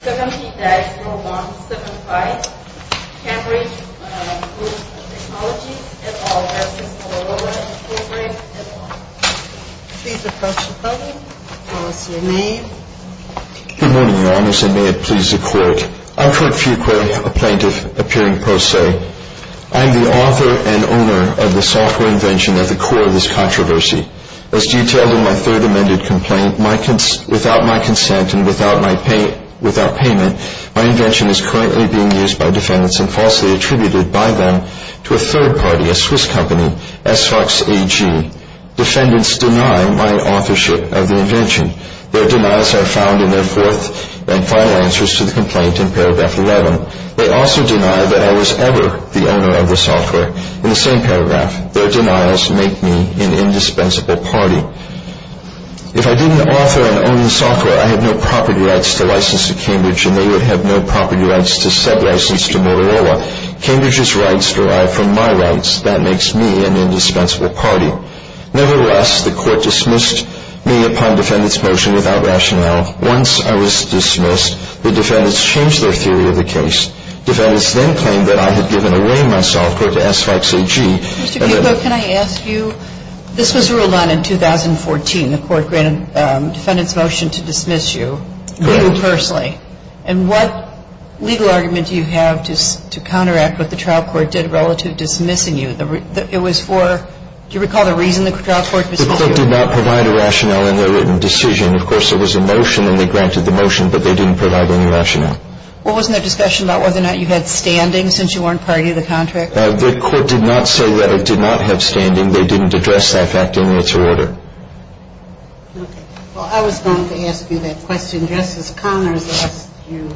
70-4175, Cambridge Group Technologies, LLC, Motorola, Inc, etc. Please approach the podium, I'll ask your name. Good morning, Your Honours, and may it please the Court. I'm Kurt Fuqua, a plaintiff, appearing pro se. I am the author and owner of the software invention at the core of this controversy. As detailed in my third amended complaint, without my consent and without payment, my invention is currently being used by defendants and falsely attributed by them to a third party, a Swiss company, S-Fox AG. Defendants deny my authorship of the invention. Their denials are found in their fourth and final answers to the complaint in paragraph 11. They also deny that I was ever the owner of the software. In the same paragraph, their denials make me an indispensable party. If I didn't author and own the software, I have no property rights to license to Cambridge, and they would have no property rights to sub-license to Motorola. Cambridge's rights derive from my rights. That makes me an indispensable party. Nevertheless, the Court dismissed me upon defendant's motion without rationale. Once I was dismissed, the defendants changed their theory of the case. The defense then claimed that I had given away my software to S-Fox AG. Ms. Kupfer, can I ask you, this was ruled on in 2014. The Court granted defendant's motion to dismiss you. Correct. Legal personally. And what legal argument do you have to counteract what the trial court did relative dismissing you? It was for, do you recall the reason the trial court dismissed you? The Court did not provide a rationale in their written decision. Of course, there was a motion, and they granted the motion, but they didn't provide any rationale. Well, wasn't there discussion about whether or not you had standing since you weren't part of the contract? The Court did not say that I did not have standing. They didn't address that fact in its order. Okay. Well, I was going to ask you that question. Justice Connors asked you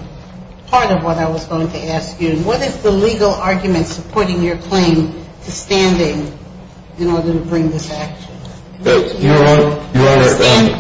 part of what I was going to ask you. What is the legal argument supporting your claim to standing in order to bring this action? Your Honor.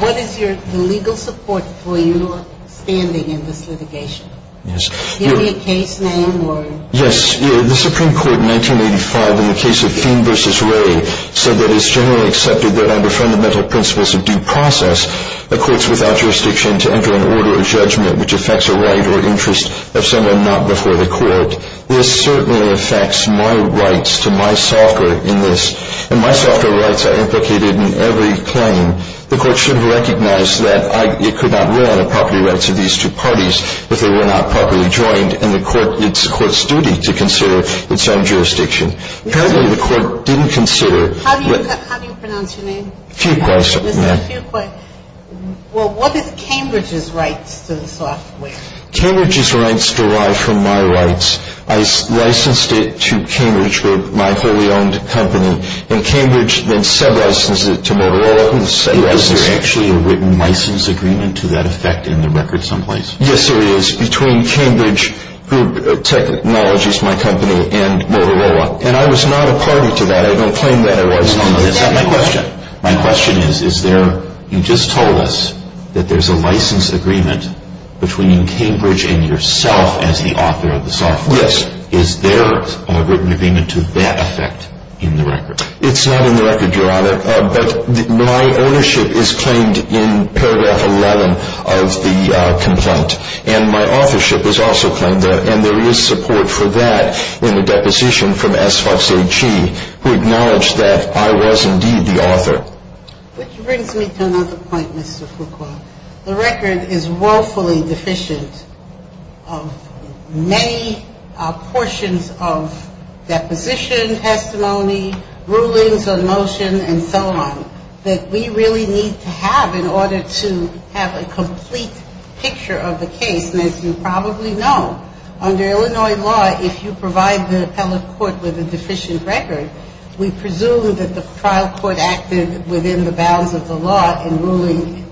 What is the legal support for your standing in this litigation? Yes. Do you have a case name or? Yes. The Supreme Court in 1985 in the case of Feene v. Ray said that it's generally accepted that under fundamental principles of due process, a court's without jurisdiction to enter an order of judgment which affects a right or interest of someone not before the court. This certainly affects my rights to my software in this, and my software rights are implicated in every claim. The court should have recognized that it could not rule on the property rights of these two parties if they were not properly joined, and the court, it's the court's duty to consider its own jurisdiction. Apparently, the court didn't consider. How do you pronounce your name? Fuqua. Mr. Fuqua. Well, what is Cambridge's rights to the software? Cambridge's rights derive from my rights. I licensed it to Cambridge, my wholly owned company, and Cambridge then sub-licensed it to Motorola, who sub-licensed it. Is there actually a written license agreement to that effect in the record someplace? Yes, there is, between Cambridge Technologies, my company, and Motorola, and I was not a party to that. I don't claim that I was. Is that my question? My question is, is there, you just told us that there's a license agreement between Cambridge and yourself as the author of the software. Yes. Is there a written agreement to that effect in the record? It's not in the record, Your Honor, but my ownership is claimed in paragraph 11 of the complaint, and my authorship is also claimed there, and there is support for that in the deposition from S. Fox A. Chee, who acknowledged that I was indeed the author. Which brings me to another point, Mr. Fuqua. The record is woefully deficient of many portions of deposition, testimony, rulings on motion, and so on, that we really need to have in order to have a complete picture of the case. And as you probably know, under Illinois law, if you provide the appellate court with a deficient record, we presume that the trial court acted within the bounds of the law in ruling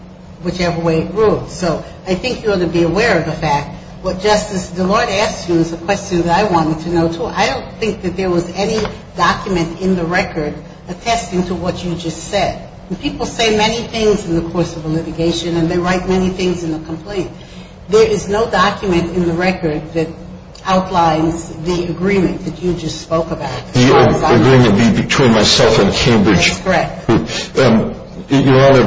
whichever way it ruled. So I think you ought to be aware of the fact. What Justice Deloitte asked you is a question that I wanted to know, too. I don't think that there was any document in the record attesting to what you just said. People say many things in the course of a litigation, and they write many things in the complaint. There is no document in the record that outlines the agreement that you just spoke about. The agreement would be between myself and Cambridge. That's correct. Your Honor,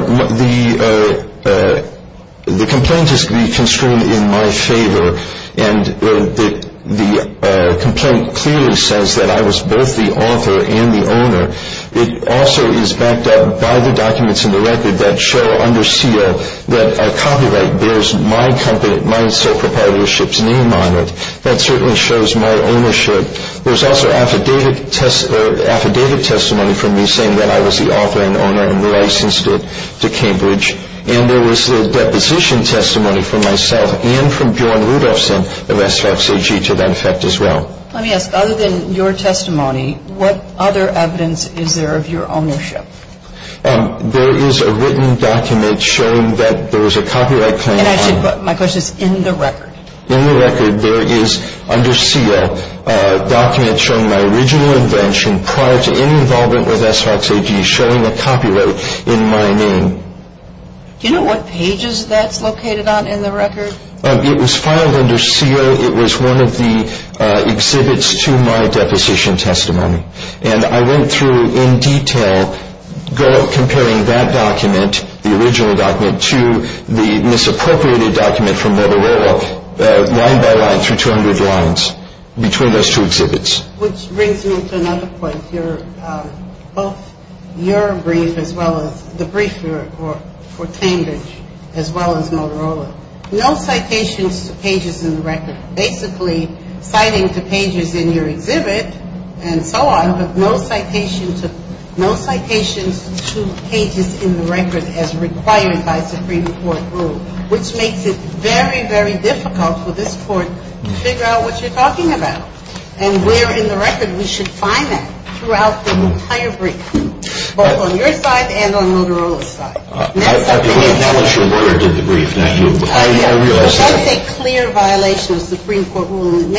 the complaint is to be constrained in my favor, and the complaint clearly says that I was both the author and the owner. It also is backed up by the documents in the record that show under seal that a copyright bears my company, my sole proprietorship's name on it. That certainly shows my ownership. There's also affidavit testimony from me saying that I was the author and owner and licensed it to Cambridge, and there was a deposition testimony from myself and from Bjorn Rudolfsson of SFAG to that effect as well. Let me ask. Other than your testimony, what other evidence is there of your ownership? There is a written document showing that there was a copyright claim. My question is in the record. In the record there is under seal a document showing my original invention prior to any involvement with SFAG showing a copyright in my name. Do you know what pages that's located on in the record? It was filed under seal. It was one of the exhibits to my deposition testimony, and I went through in detail comparing that document, the original document, to the misappropriated document from Motorola line by line through 200 lines between those two exhibits. Which brings me to another point here. Both your brief as well as the brief for Cambridge as well as Motorola. No citations to pages in the record. Basically citing to pages in your exhibit and so on, but no citations to pages in the record as required by Supreme Court rule. Which makes it very, very difficult for this court to figure out what you're talking about. And we're in the record. We should find that throughout the entire brief, both on your side and on Motorola's side. I believe that was your word in the brief. I say clear violation of Supreme Court rule. It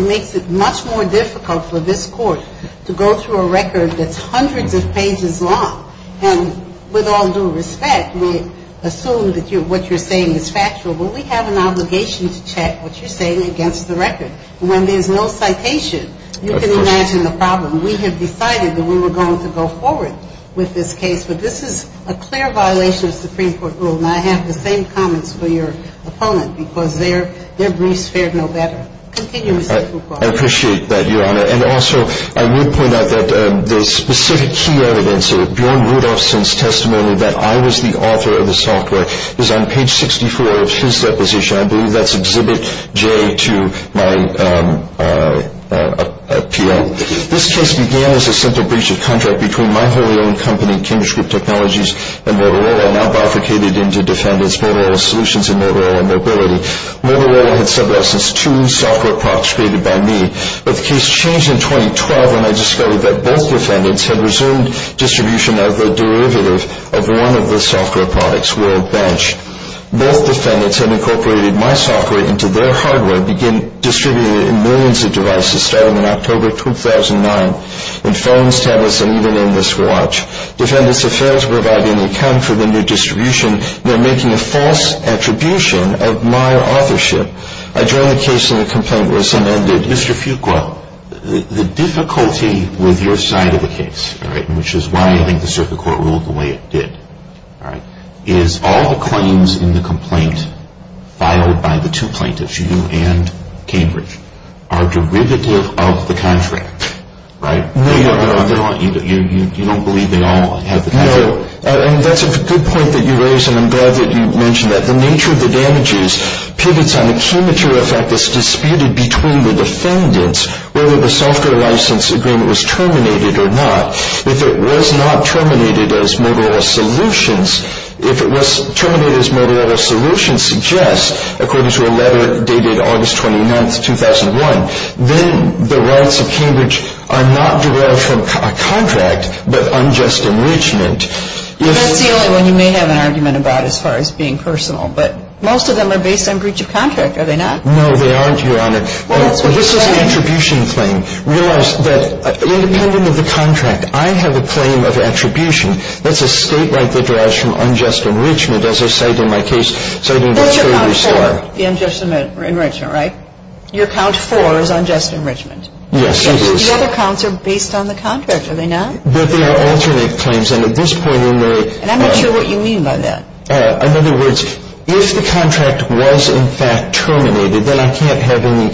makes it much more difficult for this court to go through a record that's hundreds of pages long. And with all due respect, we assume that what you're saying is factual, but we have an obligation to check what you're saying against the record. When there's no citation, you can imagine the problem. We have decided that we were going to go forward with this case, but this is a clear violation of Supreme Court rule. And I have the same comments for your opponent, because their briefs fared no better. Continue, Mr. Krupa. I appreciate that, Your Honor. And also, I would point out that the specific key evidence of Bjorn Rudolfsson's testimony that I was the author of the software is on page 64 of his deposition. I believe that's exhibit J to my appeal. This case began as a central breach of contract between my wholly owned company, Cambridge Group Technologies, and Motorola, now bifurcated into Defendant's Motorola Solutions and Motorola Mobility. Motorola had supplied us with two software products created by me, but the case changed in 2012 when I discovered that both defendants had resumed distribution of the derivative of one of the software products, WorldBench. Both defendants had incorporated my software into their hardware and began distributing it in millions of devices starting in October 2009, in phones, tablets, and even in this watch. Defendants Affairs were not in account for the new distribution. They're making a false attribution of my authorship. I joined the case in a complaint where someone did. Mr. Fuqua, the difficulty with your side of the case, which is why I think the circuit court ruled the way it did, is all the claims in the complaint filed by the two plaintiffs, you and Cambridge, are derivative of the contract. You don't believe they all have the patent? No, and that's a good point that you raise, and I'm glad that you mentioned that. The nature of the damages pivots on the key material fact that's disputed between the defendants, whether the software license agreement was terminated or not. If it was not terminated as Motorola Solutions, if it was terminated as Motorola Solutions, according to a letter dated August 29, 2001, then the rights of Cambridge are not derived from a contract but unjust enrichment. That's the only one you may have an argument about as far as being personal, but most of them are based on breach of contract, are they not? No, they aren't, Your Honor. Well, that's what you're saying. This is an attribution claim. Realize that independent of the contract, I have a claim of attribution. That's a state right that derives from unjust enrichment, as I cite in my case. That's your count four, the unjust enrichment, right? Your count four is unjust enrichment. Yes, it is. The other counts are based on the contract, are they not? But they are alternate claims, and at this point in their... And I'm not sure what you mean by that. In other words, if the contract was in fact terminated, then I can't have any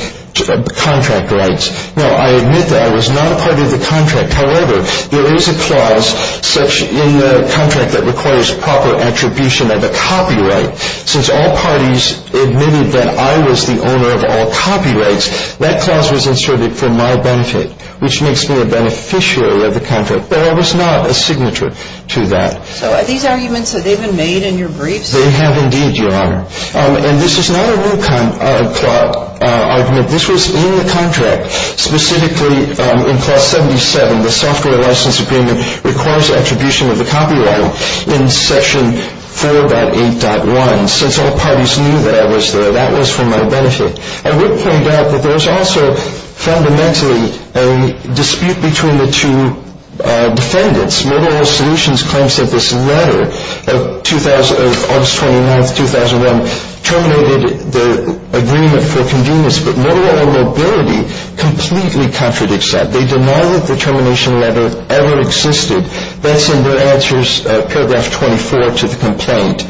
contract rights. No, I admit that I was not a part of the contract. However, there is a clause in the contract that requires proper attribution of a copyright. Since all parties admitted that I was the owner of all copyrights, that clause was inserted for my benefit, which makes me a beneficiary of the contract. But I was not a signature to that. So these arguments, have they been made in your briefs? They have indeed, Your Honor. And this is not a new kind of argument. This was in the contract, specifically in clause 77. The software license agreement requires attribution of the copyright in section 4.8.1. Since all parties knew that I was there, that was for my benefit. I would point out that there was also fundamentally a dispute between the two defendants. Mobile Oil Solutions claims that this letter of August 29, 2001 terminated the agreement for convenience, but Mobile Oil Mobility completely contradicts that. They deny that the termination letter ever existed. That's in their answers, paragraph 24 to the complaint.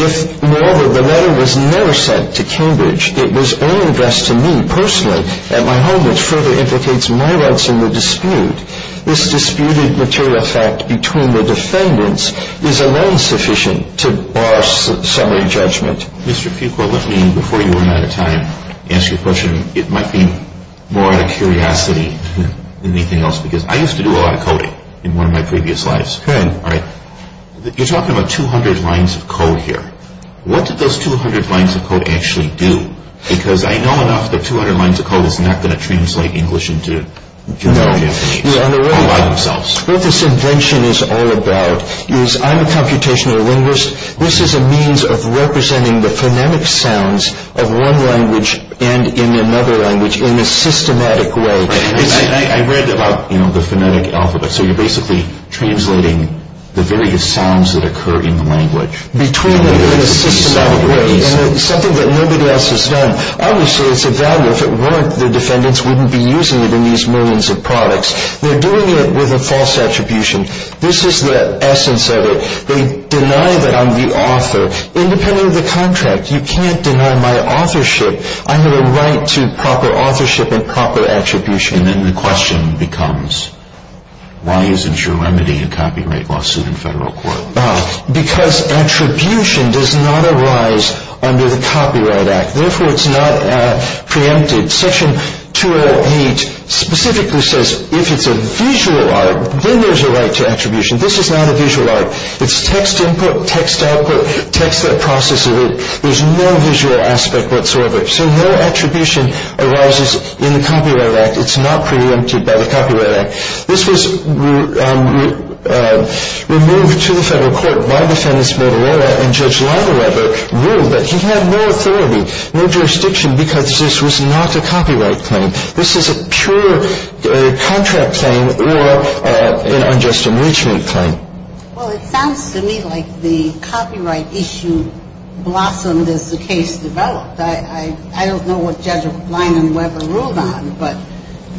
If, moreover, the letter was never sent to Cambridge, it was only addressed to me personally at my home, which further implicates my rights in the dispute. This disputed material fact between the defendants is alone sufficient to bar summary judgment. Mr. Fuqua, let me, before you run out of time, ask you a question. It might be more out of curiosity than anything else, because I used to do a lot of coding in one of my previous lives. You're talking about 200 lines of code here. What did those 200 lines of code actually do? Because I know enough that 200 lines of code is not going to translate English into Japanese all by themselves. What this invention is all about is I'm a computational linguist. This is a means of representing the phonemic sounds of one language and in another language in a systematic way. I read about the phonetic alphabet, so you're basically translating the various sounds that occur in the language. Between them in a systematic way, and it's something that nobody else has done. Obviously, it's a value. If it weren't, the defendants wouldn't be using it in these millions of products. They're doing it with a false attribution. This is the essence of it. They deny that I'm the author. Independent of the contract, you can't deny my authorship. I have a right to proper authorship and proper attribution. Then the question becomes, why isn't your remedy a copyright lawsuit in federal court? Because attribution does not arise under the Copyright Act. Therefore, it's not preempted. Section 208 specifically says if it's a visual art, then there's a right to attribution. This is not a visual art. It's text input, text output, text that processes it. There's no visual aspect whatsoever. So no attribution arises in the Copyright Act. It's not preempted by the Copyright Act. This was removed to the federal court by Defendant Mortallera, and Judge Langeweber ruled that he had no authority, no jurisdiction, because this was not a copyright claim. This is a pure contract claim or an unjust enrichment claim. Well, it sounds to me like the copyright issue blossomed as the case developed. I don't know what Judge Langeweber ruled on, but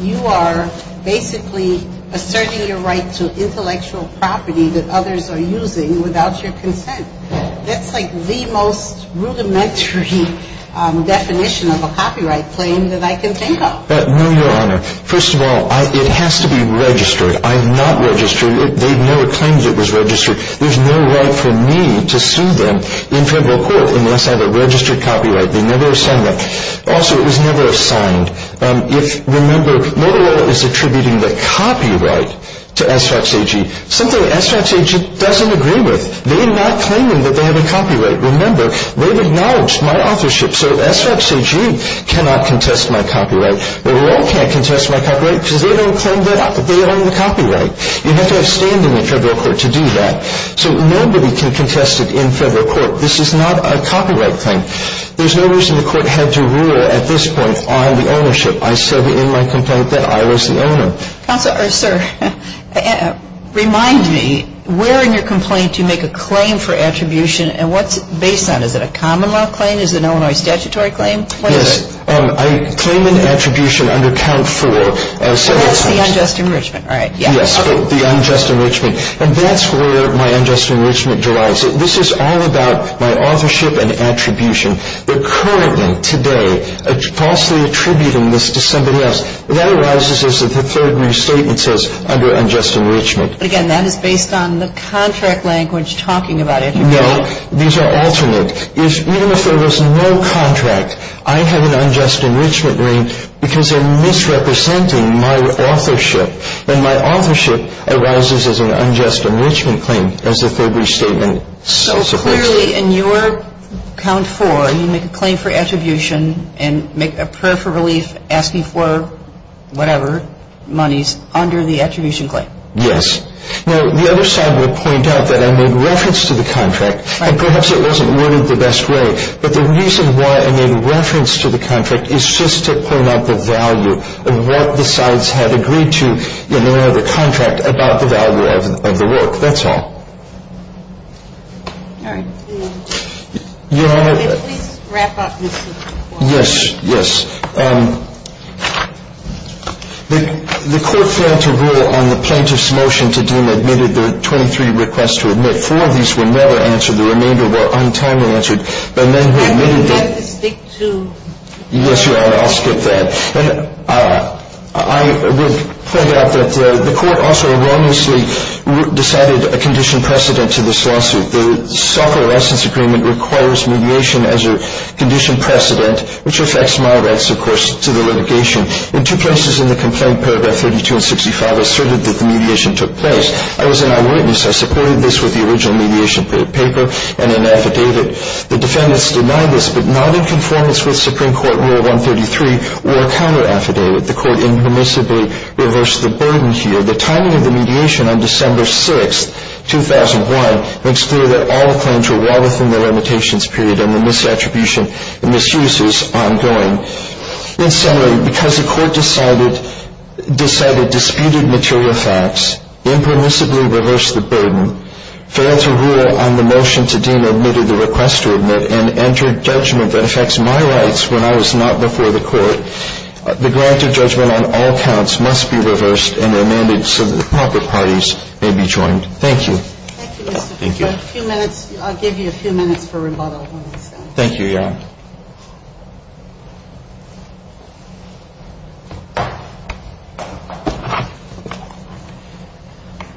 you are basically asserting your right to intellectual property that others are using without your consent. That's like the most rudimentary definition of a copyright claim that I can think of. No, Your Honor. First of all, it has to be registered. I'm not registering it. They never claimed it was registered. There's no right for me to sue them in federal court unless I have a registered copyright. They never assigned that. Also, it was never assigned. If, remember, Mortallera is attributing the copyright to S. Fox AG, something S. Fox AG doesn't agree with. They're not claiming that they have a copyright. Remember, they've acknowledged my authorship, so S. Fox AG cannot contest my copyright. Well, we all can't contest my copyright because they don't claim that they own the copyright. You have to have standing in federal court to do that. So nobody can contest it in federal court. This is not a copyright claim. There's no reason the court had to rule at this point on the ownership. I said in my complaint that I was the owner. Counselor, or sir, remind me, where in your complaint do you make a claim for attribution, and what's it based on? Is it a common law claim? Is it an Illinois statutory claim? Yes. I claim an attribution under count four. So that's the unjust enrichment, right? Yes, the unjust enrichment. And that's where my unjust enrichment derives. This is all about my authorship and attribution. They're currently, today, falsely attributing this to somebody else. That arises as the third restatement says, under unjust enrichment. But, again, that is based on the contract language talking about attribution. No. These are alternate. Even if there was no contract, I have an unjust enrichment claim because they're misrepresenting my authorship. And my authorship arises as an unjust enrichment claim, as the third restatement says. Clearly, in your count four, you make a claim for attribution and make a prayer for relief asking for whatever monies under the attribution claim. Yes. Now, the other side would point out that I made reference to the contract. Perhaps it wasn't really the best way, but the reason why I made reference to the contract is just to point out the value of what the sides had agreed to in their other contract about the value of the work. That's all. All right. Your Honor. Could you please wrap up this report? Yes. Yes. The court failed to rule on the plaintiff's motion to do and admitted the 23 requests to admit. Four of these were never answered. The remainder were untimely answered by men who admitted that. You have to stick to. Yes, Your Honor. I'll skip that. I would point out that the court also erroneously decided a condition precedent to this lawsuit. The self-releasance agreement requires mediation as a condition precedent, which affects my rights, of course, to the litigation. In two places in the complaint, paragraph 32 and 65 asserted that the mediation took place. I was an eyewitness. I supported this with the original mediation paper and an affidavit. The defendants denied this, but not in conformance with Supreme Court Rule 133 or counter-affidavit. The court impermissibly reversed the burden here. The timing of the mediation on December 6, 2001, makes clear that all claims were well within the limitations period and the misattribution and misuse is ongoing. In summary, because the court decided disputed material facts, impermissibly reversed the burden, failed to rule on the motion to deem admitted the request to admit, and entered judgment that affects my rights when I was not before the court, the grant of judgment on all counts must be reversed and remanded so that the proper parties may be joined. Thank you. Thank you. I'll give you a few minutes for rebuttal. Thank you, Your Honor.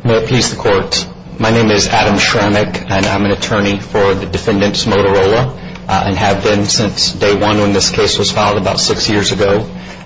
May it please the court. My name is Adam Shramick, and I'm an attorney for the defendants, Motorola, and have been since day one when this case was filed about six years ago.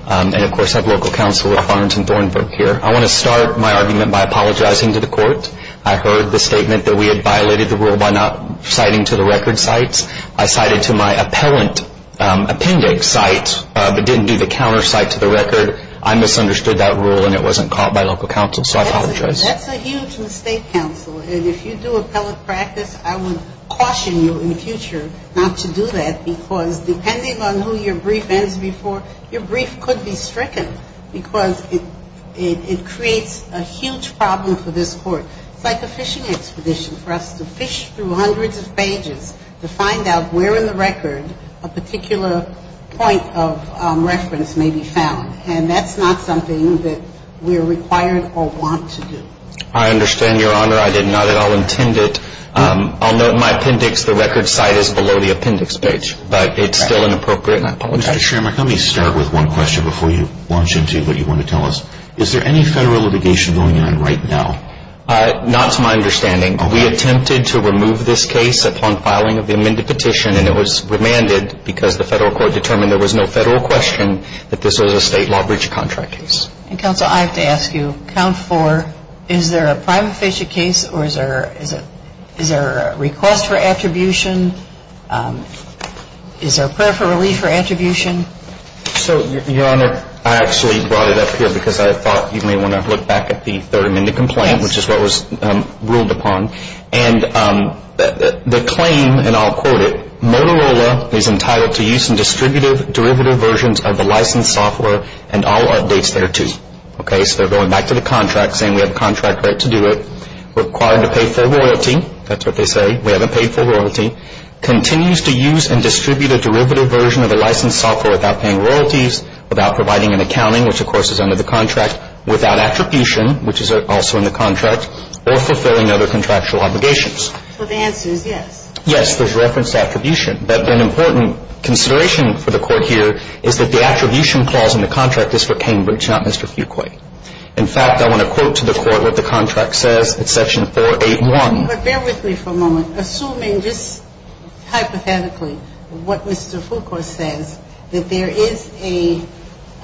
And, of course, I have local counsel, Ralph Arnton Thornbrook, here. I want to start my argument by apologizing to the court. I heard the statement that we had violated the rule by not citing to the record sites. I cited to my appellant. I cited to the record appendix site, but didn't do the countersite to the record. I misunderstood that rule, and it wasn't caught by local counsel, so I apologize. That's a huge mistake, counsel. And if you do appellate practice, I would caution you in the future not to do that, because depending on who your brief ends before, your brief could be stricken, because it creates a huge problem for this court. It's like a fishing expedition for us to fish through hundreds of pages to find out where in the record a particular point of reference may be found. And that's not something that we are required or want to do. I understand, Your Honor. I did not at all intend it. I'll note in my appendix the record site is below the appendix page, but it's still inappropriate. And I apologize. Mr. Schrammer, let me start with one question before you launch into what you want to tell us. Is there any Federal litigation going on right now? Not to my understanding. We attempted to remove this case upon filing of the amended petition, and it was remanded because the Federal court determined there was no Federal question that this was a state law breach contract case. And, counsel, I have to ask you, count four. Is there a prime officiate case, or is there a request for attribution? Is there a prayer for relief for attribution? So, Your Honor, I actually brought it up here because I thought you may want to look back at the third amended complaint, which is what was ruled upon. And the claim, and I'll quote it, Motorola is entitled to use in distributive derivative versions of the licensed software and all updates thereto. Okay? So they're going back to the contract, saying we have a contract right to do it. Required to pay full royalty. That's what they say. We haven't paid full royalty. Continues to use and distribute a derivative version of the licensed software without paying royalties, without providing an accounting, which, of course, is under the contract, without attribution, which is also in the contract, or fulfilling other contractual obligations. So the answer is yes. Yes. There's reference to attribution. But an important consideration for the Court here is that the attribution clause in the contract is for Cambridge, not Mr. Fuqua. In fact, I want to quote to the Court what the contract says in Section 481. But bear with me for a moment. Assuming just hypothetically what Mr. Fuqua says, that there is an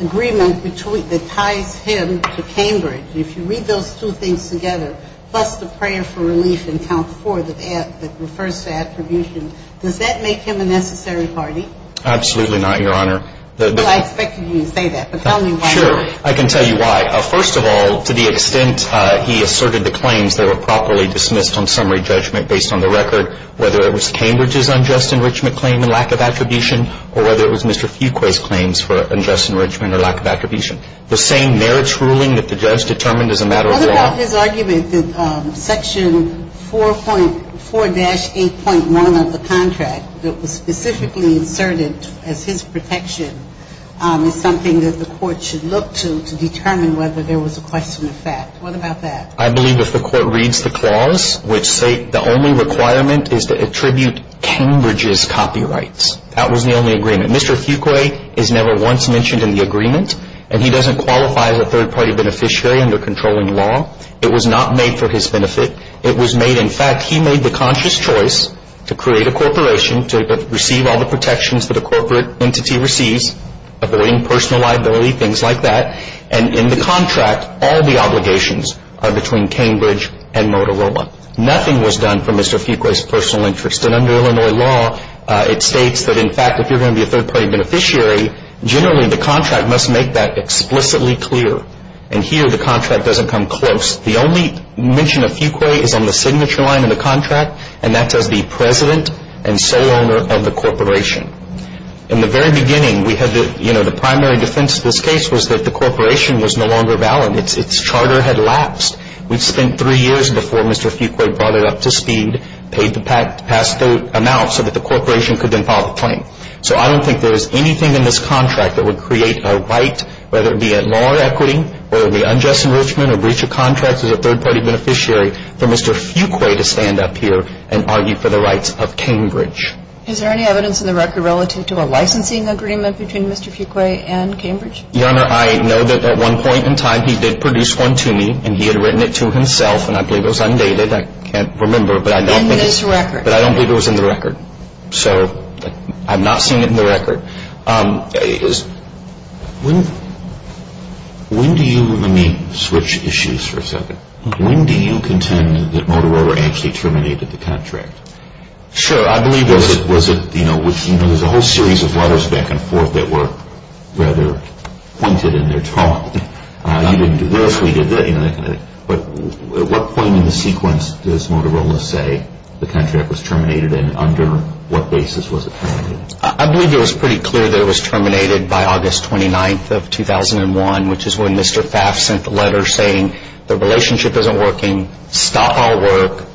agreement that ties him to Cambridge, if you read those two things together, plus the prayer for relief in count four that refers to attribution, does that make him a necessary party? Absolutely not, Your Honor. Well, I expected you to say that. But tell me why. Sure. I can tell you why. First of all, to the extent he asserted the claims that were properly dismissed on summary judgment based on the record, whether it was Cambridge's unjust enrichment claim and lack of attribution, or whether it was Mr. Fuqua's claims for unjust enrichment or lack of attribution. The same merits ruling that the judge determined as a matter of law. What about his argument that Section 4.4-8.1 of the contract that was specifically inserted as his protection is something that the Court should look to to determine whether there was a question of fact? What about that? I believe if the Court reads the clause, which say the only requirement is to attribute Cambridge's copyrights. That was the only agreement. Mr. Fuqua is never once mentioned in the agreement, and he doesn't qualify as a third-party beneficiary under controlling law. It was not made for his benefit. In fact, he made the conscious choice to create a corporation to receive all the protections that a corporate entity receives, avoiding personal liability, things like that. And in the contract, all the obligations are between Cambridge and Motorola. Nothing was done for Mr. Fuqua's personal interest. And under Illinois law, it states that, in fact, if you're going to be a third-party beneficiary, generally the contract must make that explicitly clear. And here, the contract doesn't come close. The only mention of Fuqua is on the signature line in the contract, and that says the president and sole owner of the corporation. In the very beginning, we had the, you know, the primary defense of this case was that the corporation was no longer valid. Its charter had lapsed. We'd spent three years before Mr. Fuqua brought it up to speed, paid the past amount so that the corporation could then file the claim. So I don't think there is anything in this contract that would create a right, whether it be at law or equity, whether it be unjust enrichment or breach of contract as a third-party beneficiary, for Mr. Fuqua to stand up here and argue for the rights of Cambridge. Is there any evidence in the record relative to a licensing agreement between Mr. Fuqua and Cambridge? Your Honor, I know that at one point in time he did produce one to me, and he had written it to himself, and I believe it was undated. I can't remember. In this record. But I don't believe it was in the record. So I'm not seeing it in the record. When do you – let me switch issues for a second. When do you contend that Motorola actually terminated the contract? Sure. I believe – Was it – you know, there's a whole series of letters back and forth that were rather pointed in their talk. You didn't do this, we did that, you know, that kind of thing. But at what point in the sequence does Motorola say the contract was terminated, and under what basis was it terminated? I believe it was pretty clear that it was terminated by August 29th of 2001, which is when Mr. Pfaff sent the letter saying the relationship isn't working. Stop all work.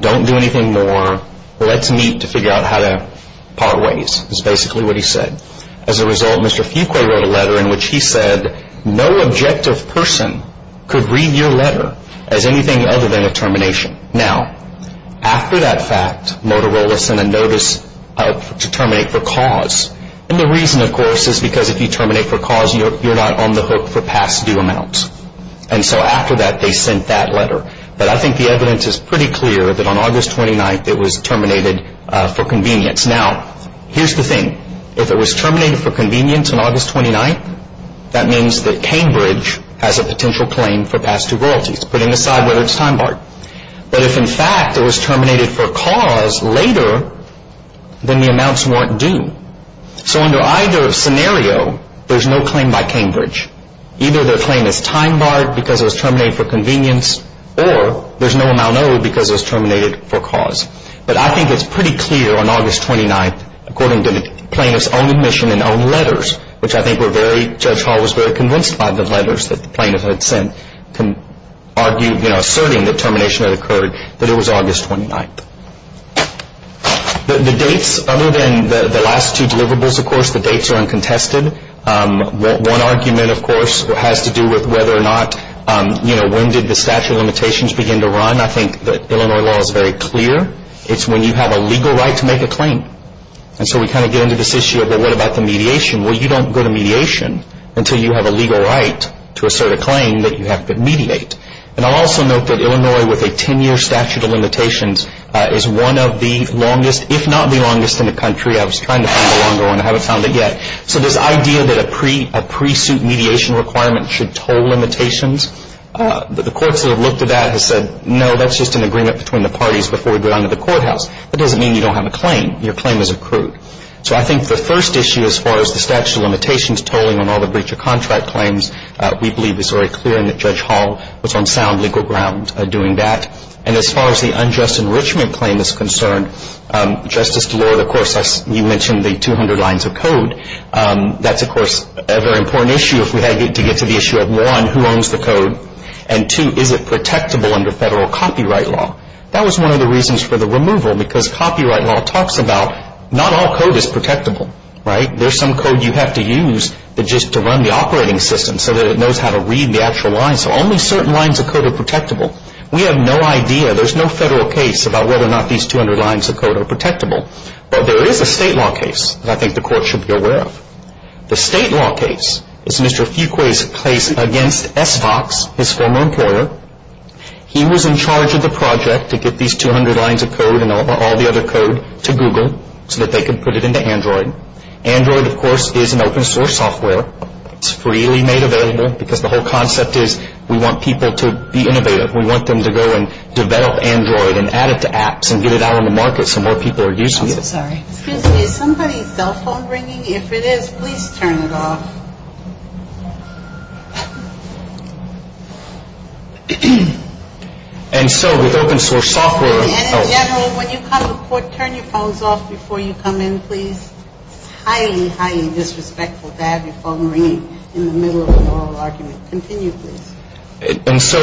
Don't do anything more. Let's meet to figure out how to part ways is basically what he said. As a result, Mr. Fuqua wrote a letter in which he said, no objective person could read your letter as anything other than a termination. Now, after that fact, Motorola sent a notice to terminate for cause. And the reason, of course, is because if you terminate for cause, you're not on the hook for past due amounts. And so after that, they sent that letter. But I think the evidence is pretty clear that on August 29th it was terminated for convenience. Now, here's the thing. If it was terminated for convenience on August 29th, that means that Cambridge has a potential claim for past due royalties, putting aside whether it's time barred. But if, in fact, it was terminated for cause later, then the amounts weren't due. So under either scenario, there's no claim by Cambridge. Either their claim is time barred because it was terminated for convenience, or there's no amount owed because it was terminated for cause. But I think it's pretty clear on August 29th, according to the plaintiff's own admission and own letters, which I think Judge Hall was very convinced by the letters that the plaintiff had sent, asserting that termination had occurred, that it was August 29th. The dates, other than the last two deliverables, of course, the dates are uncontested. One argument, of course, has to do with whether or not when did the statute of limitations begin to run. I think the Illinois law is very clear. It's when you have a legal right to make a claim. And so we kind of get into this issue of, well, what about the mediation? Well, you don't go to mediation until you have a legal right to assert a claim that you have to mediate. And I'll also note that Illinois, with a 10-year statute of limitations, is one of the longest, if not the longest in the country. I was trying to find a longer one. I haven't found it yet. So this idea that a pre-suit mediation requirement should toll limitations, the courts that have looked at that have said, no, that's just an agreement between the parties before we go down to the courthouse. That doesn't mean you don't have a claim. Your claim is accrued. So I think the first issue as far as the statute of limitations tolling on all the breach of contract claims, we believe is very clear and that Judge Hall was on sound legal ground doing that. And as far as the unjust enrichment claim is concerned, Justice Delord, of course, you mentioned the 200 lines of code. That's, of course, a very important issue if we had to get to the issue of, one, who owns the code, and, two, is it protectable under Federal copyright law? That was one of the reasons for the removal because copyright law talks about not all code is protectable, right? There's some code you have to use just to run the operating system so that it knows how to read the actual lines. So only certain lines of code are protectable. We have no idea. There's no Federal case about whether or not these 200 lines of code are protectable. But there is a state law case that I think the court should be aware of. The state law case is Mr. Fuqua's case against SVOX, his former employer. He was in charge of the project to get these 200 lines of code and all the other code to Google so that they could put it into Android. Android, of course, is an open source software. It's freely made available because the whole concept is we want people to be innovative. We want them to go and develop Android and add it to apps and get it out on the market so more people are using it. Excuse me, is somebody's cell phone ringing? If it is, please turn it off. And so with open source software. And in general, when you come to court, turn your phones off before you come in, please. It's highly, highly disrespectful to have your phone ringing in the middle of an oral argument. Continue, please. And so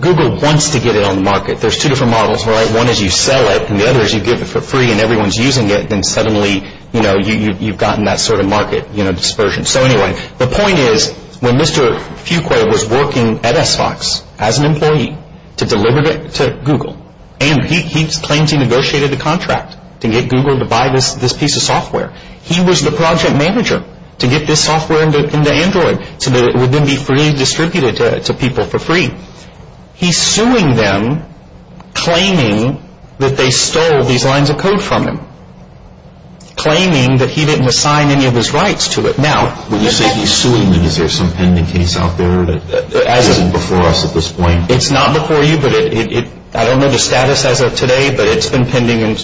Google wants to get it on the market. There's two different models, right? One is you sell it and the other is you give it for free and everyone's using it and suddenly you've gotten that sort of market dispersion. So anyway, the point is when Mr. Fuqua was working at SVOX as an employee to deliver it to Google and he claims he negotiated a contract to get Google to buy this piece of software, he was the project manager to get this software into Android so that it would then be freely distributed to people for free. He's suing them claiming that they stole these lines of code from him, claiming that he didn't assign any of his rights to it. Now, when you say he's suing them, is there some pending case out there that is before us at this point? It's not before you, but I don't know the status as of today, but it's been pending on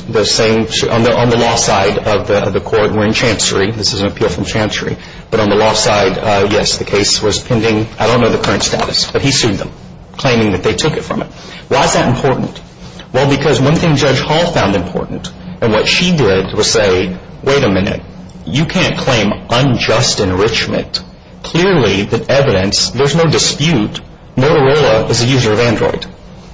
the law side of the court. We're in chancery. This is an appeal from chancery. But on the law side, yes, the case was pending. I don't know the current status, but he sued them claiming that they took it from him. Why is that important? Well, because one thing Judge Hall found important and what she did was say, wait a minute, you can't claim unjust enrichment. Clearly, the evidence, there's no dispute, Motorola is a user of Android.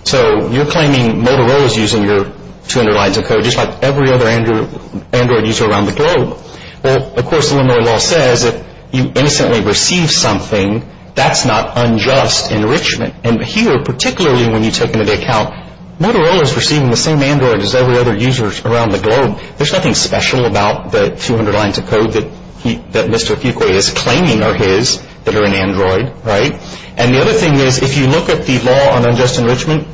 So you're claiming Motorola is using your 200 lines of code just like every other Android user around the globe. Well, of course, Illinois law says if you innocently receive something, that's not unjust enrichment. And here, particularly when you take into account Motorola is receiving the same Android as every other user around the globe, there's nothing special about the 200 lines of code that Mr. Fukui is claiming are his that are in Android. And the other thing is if you look at the law on unjust enrichment,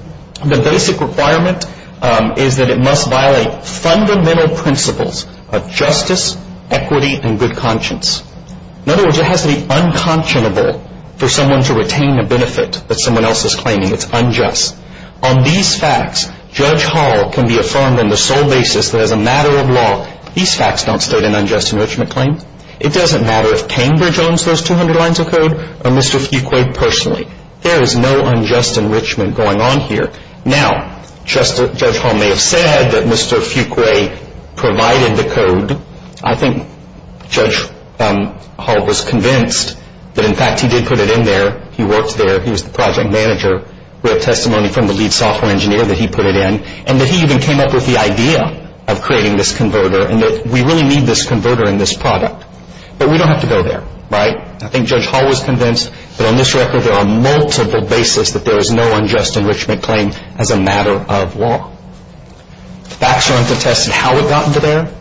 the basic requirement is that it must violate fundamental principles of justice, equity, and good conscience. In other words, it has to be unconscionable for someone to retain a benefit that someone else is claiming. It's unjust. On these facts, Judge Hall can be affirmed on the sole basis that as a matter of law, these facts don't state an unjust enrichment claim. It doesn't matter if Cambridge owns those 200 lines of code or Mr. Fukui personally. There is no unjust enrichment going on here. Now, Judge Hall may have said that Mr. Fukui provided the code. I think Judge Hall was convinced that, in fact, he did put it in there. He worked there. He was the project manager. We have testimony from the lead software engineer that he put it in, and that he even came up with the idea of creating this converter and that we really need this converter in this product. But we don't have to go there, right? I think Judge Hall was convinced that, on this record, there are multiple basis that there is no unjust enrichment claim as a matter of law. The facts don't contest how it got into there.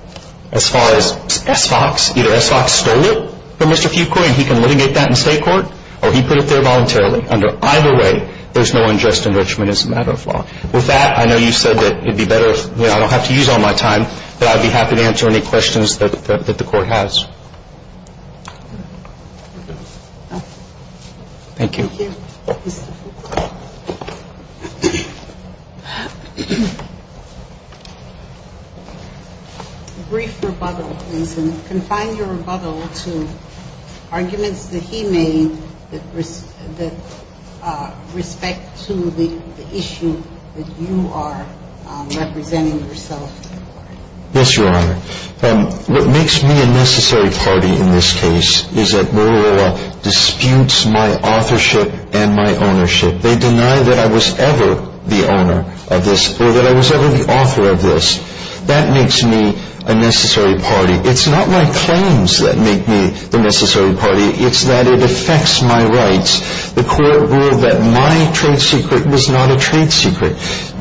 As far as SFOX, either SFOX stole it from Mr. Fukui and he can litigate that in state court, or he put it there voluntarily. Either way, there's no unjust enrichment as a matter of law. With that, I know you said that it would be better if I don't have to use all my time, but I'd be happy to answer any questions that the court has. Thank you. Thank you. I'm going to ask Judge Hall to come back to the podium and confine your rebuttal to arguments that he made with respect to the issue that you are representing yourself. Yes, Your Honor. What makes me a necessary party in this case is that Motorola disputes my authorship and my ownership. They deny that I was ever the owner of this or that I was ever the author of this. That makes me a necessary party. It's not my claims that make me the necessary party. It's that it affects my rights. The court ruled that my trade secret was not a trade secret.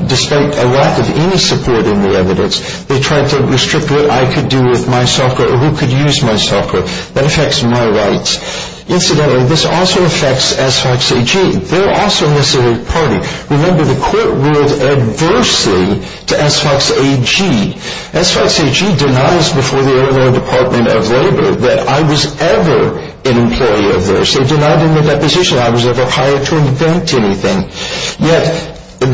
Despite a lack of any support in the evidence, they tried to restrict what I could do with my soccer or who could use my soccer. That affects my rights. Incidentally, this also affects SFOX-AG. They're also a necessary party. Remember, the court ruled adversely to SFOX-AG. SFOX-AG denies before the Illinois Department of Labor that I was ever an employee of theirs. They denied in the deposition I was ever hired to invent anything. Yet, the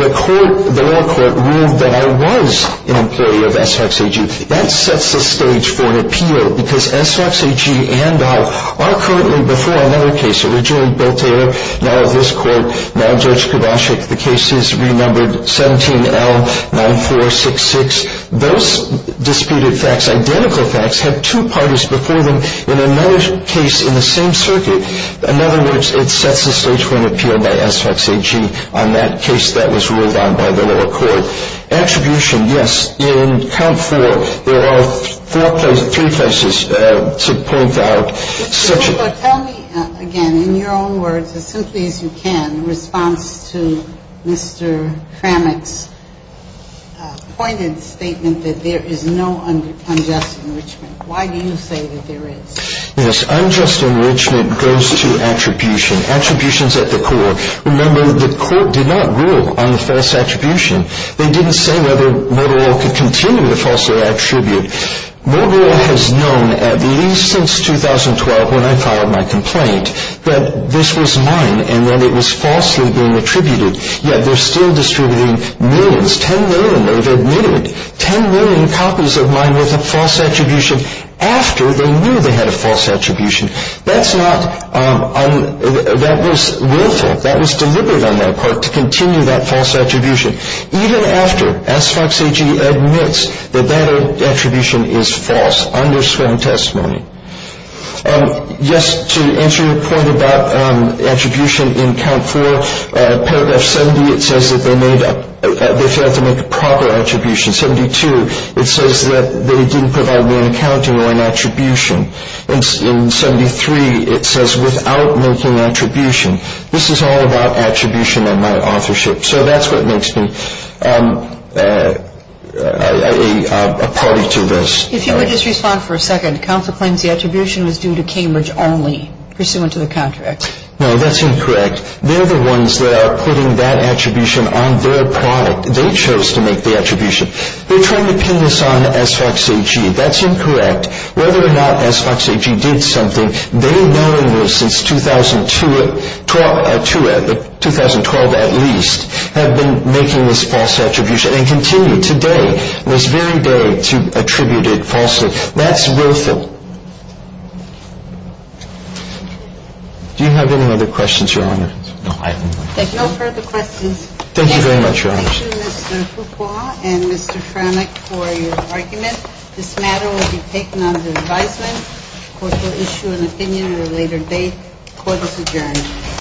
law court ruled that I was an employee of SFOX-AG. That sets the stage for an appeal because SFOX-AG and I are currently before another case. Originally, Beltair, now this court, now Judge Kodasik. The case is renumbered 17L9466. Those disputed facts, identical facts, have two parties before them in another case in the same circuit. In other words, it sets the stage for an appeal by SFOX-AG on that case that was ruled on by the lower court. Attribution, yes. In count four, there are three cases to point out. But tell me again, in your own words, as simply as you can, in response to Mr. Kramick's pointed statement that there is no unjust enrichment. Why do you say that there is? Yes, unjust enrichment goes to attribution. Attribution's at the core. Remember, the court did not rule on the false attribution. They didn't say whether Motorola could continue the false attribution. Motorola has known at least since 2012 when I filed my complaint that this was mine and that it was falsely being attributed. Yet, they're still distributing millions, 10 million, they've admitted. Ten million copies of mine with a false attribution after they knew they had a false attribution. That's not, that was willful. That was deliberate on their part to continue that false attribution, even after SFOX-AG admits that that attribution is false, underscoring testimony. Yes, to answer your point about attribution in count four, paragraph 70, it says that they failed to make a proper attribution. 72, it says that they didn't provide one accounting or an attribution. In 73, it says without making attribution. This is all about attribution and my authorship. So that's what makes me a party to this. If you would just respond for a second. Counsel claims the attribution was due to Cambridge only, pursuant to the contract. No, that's incorrect. They're the ones that are putting that attribution on their product. They chose to make the attribution. They're trying to pin this on SFOX-AG. That's incorrect. That's incorrect. Whether or not SFOX-AG did something, they knowingly since 2012 at least have been making this false attribution and continue today, this very day, to attribute it falsely. That's willful. Do you have any other questions, Your Honor? No, I have no further questions. Thank you very much, Your Honors. Thank you, Mr. Fuqua and Mr. Franek, for your argument. This matter will be taken under advisement. Court will issue an opinion at a later date. Court is adjourned.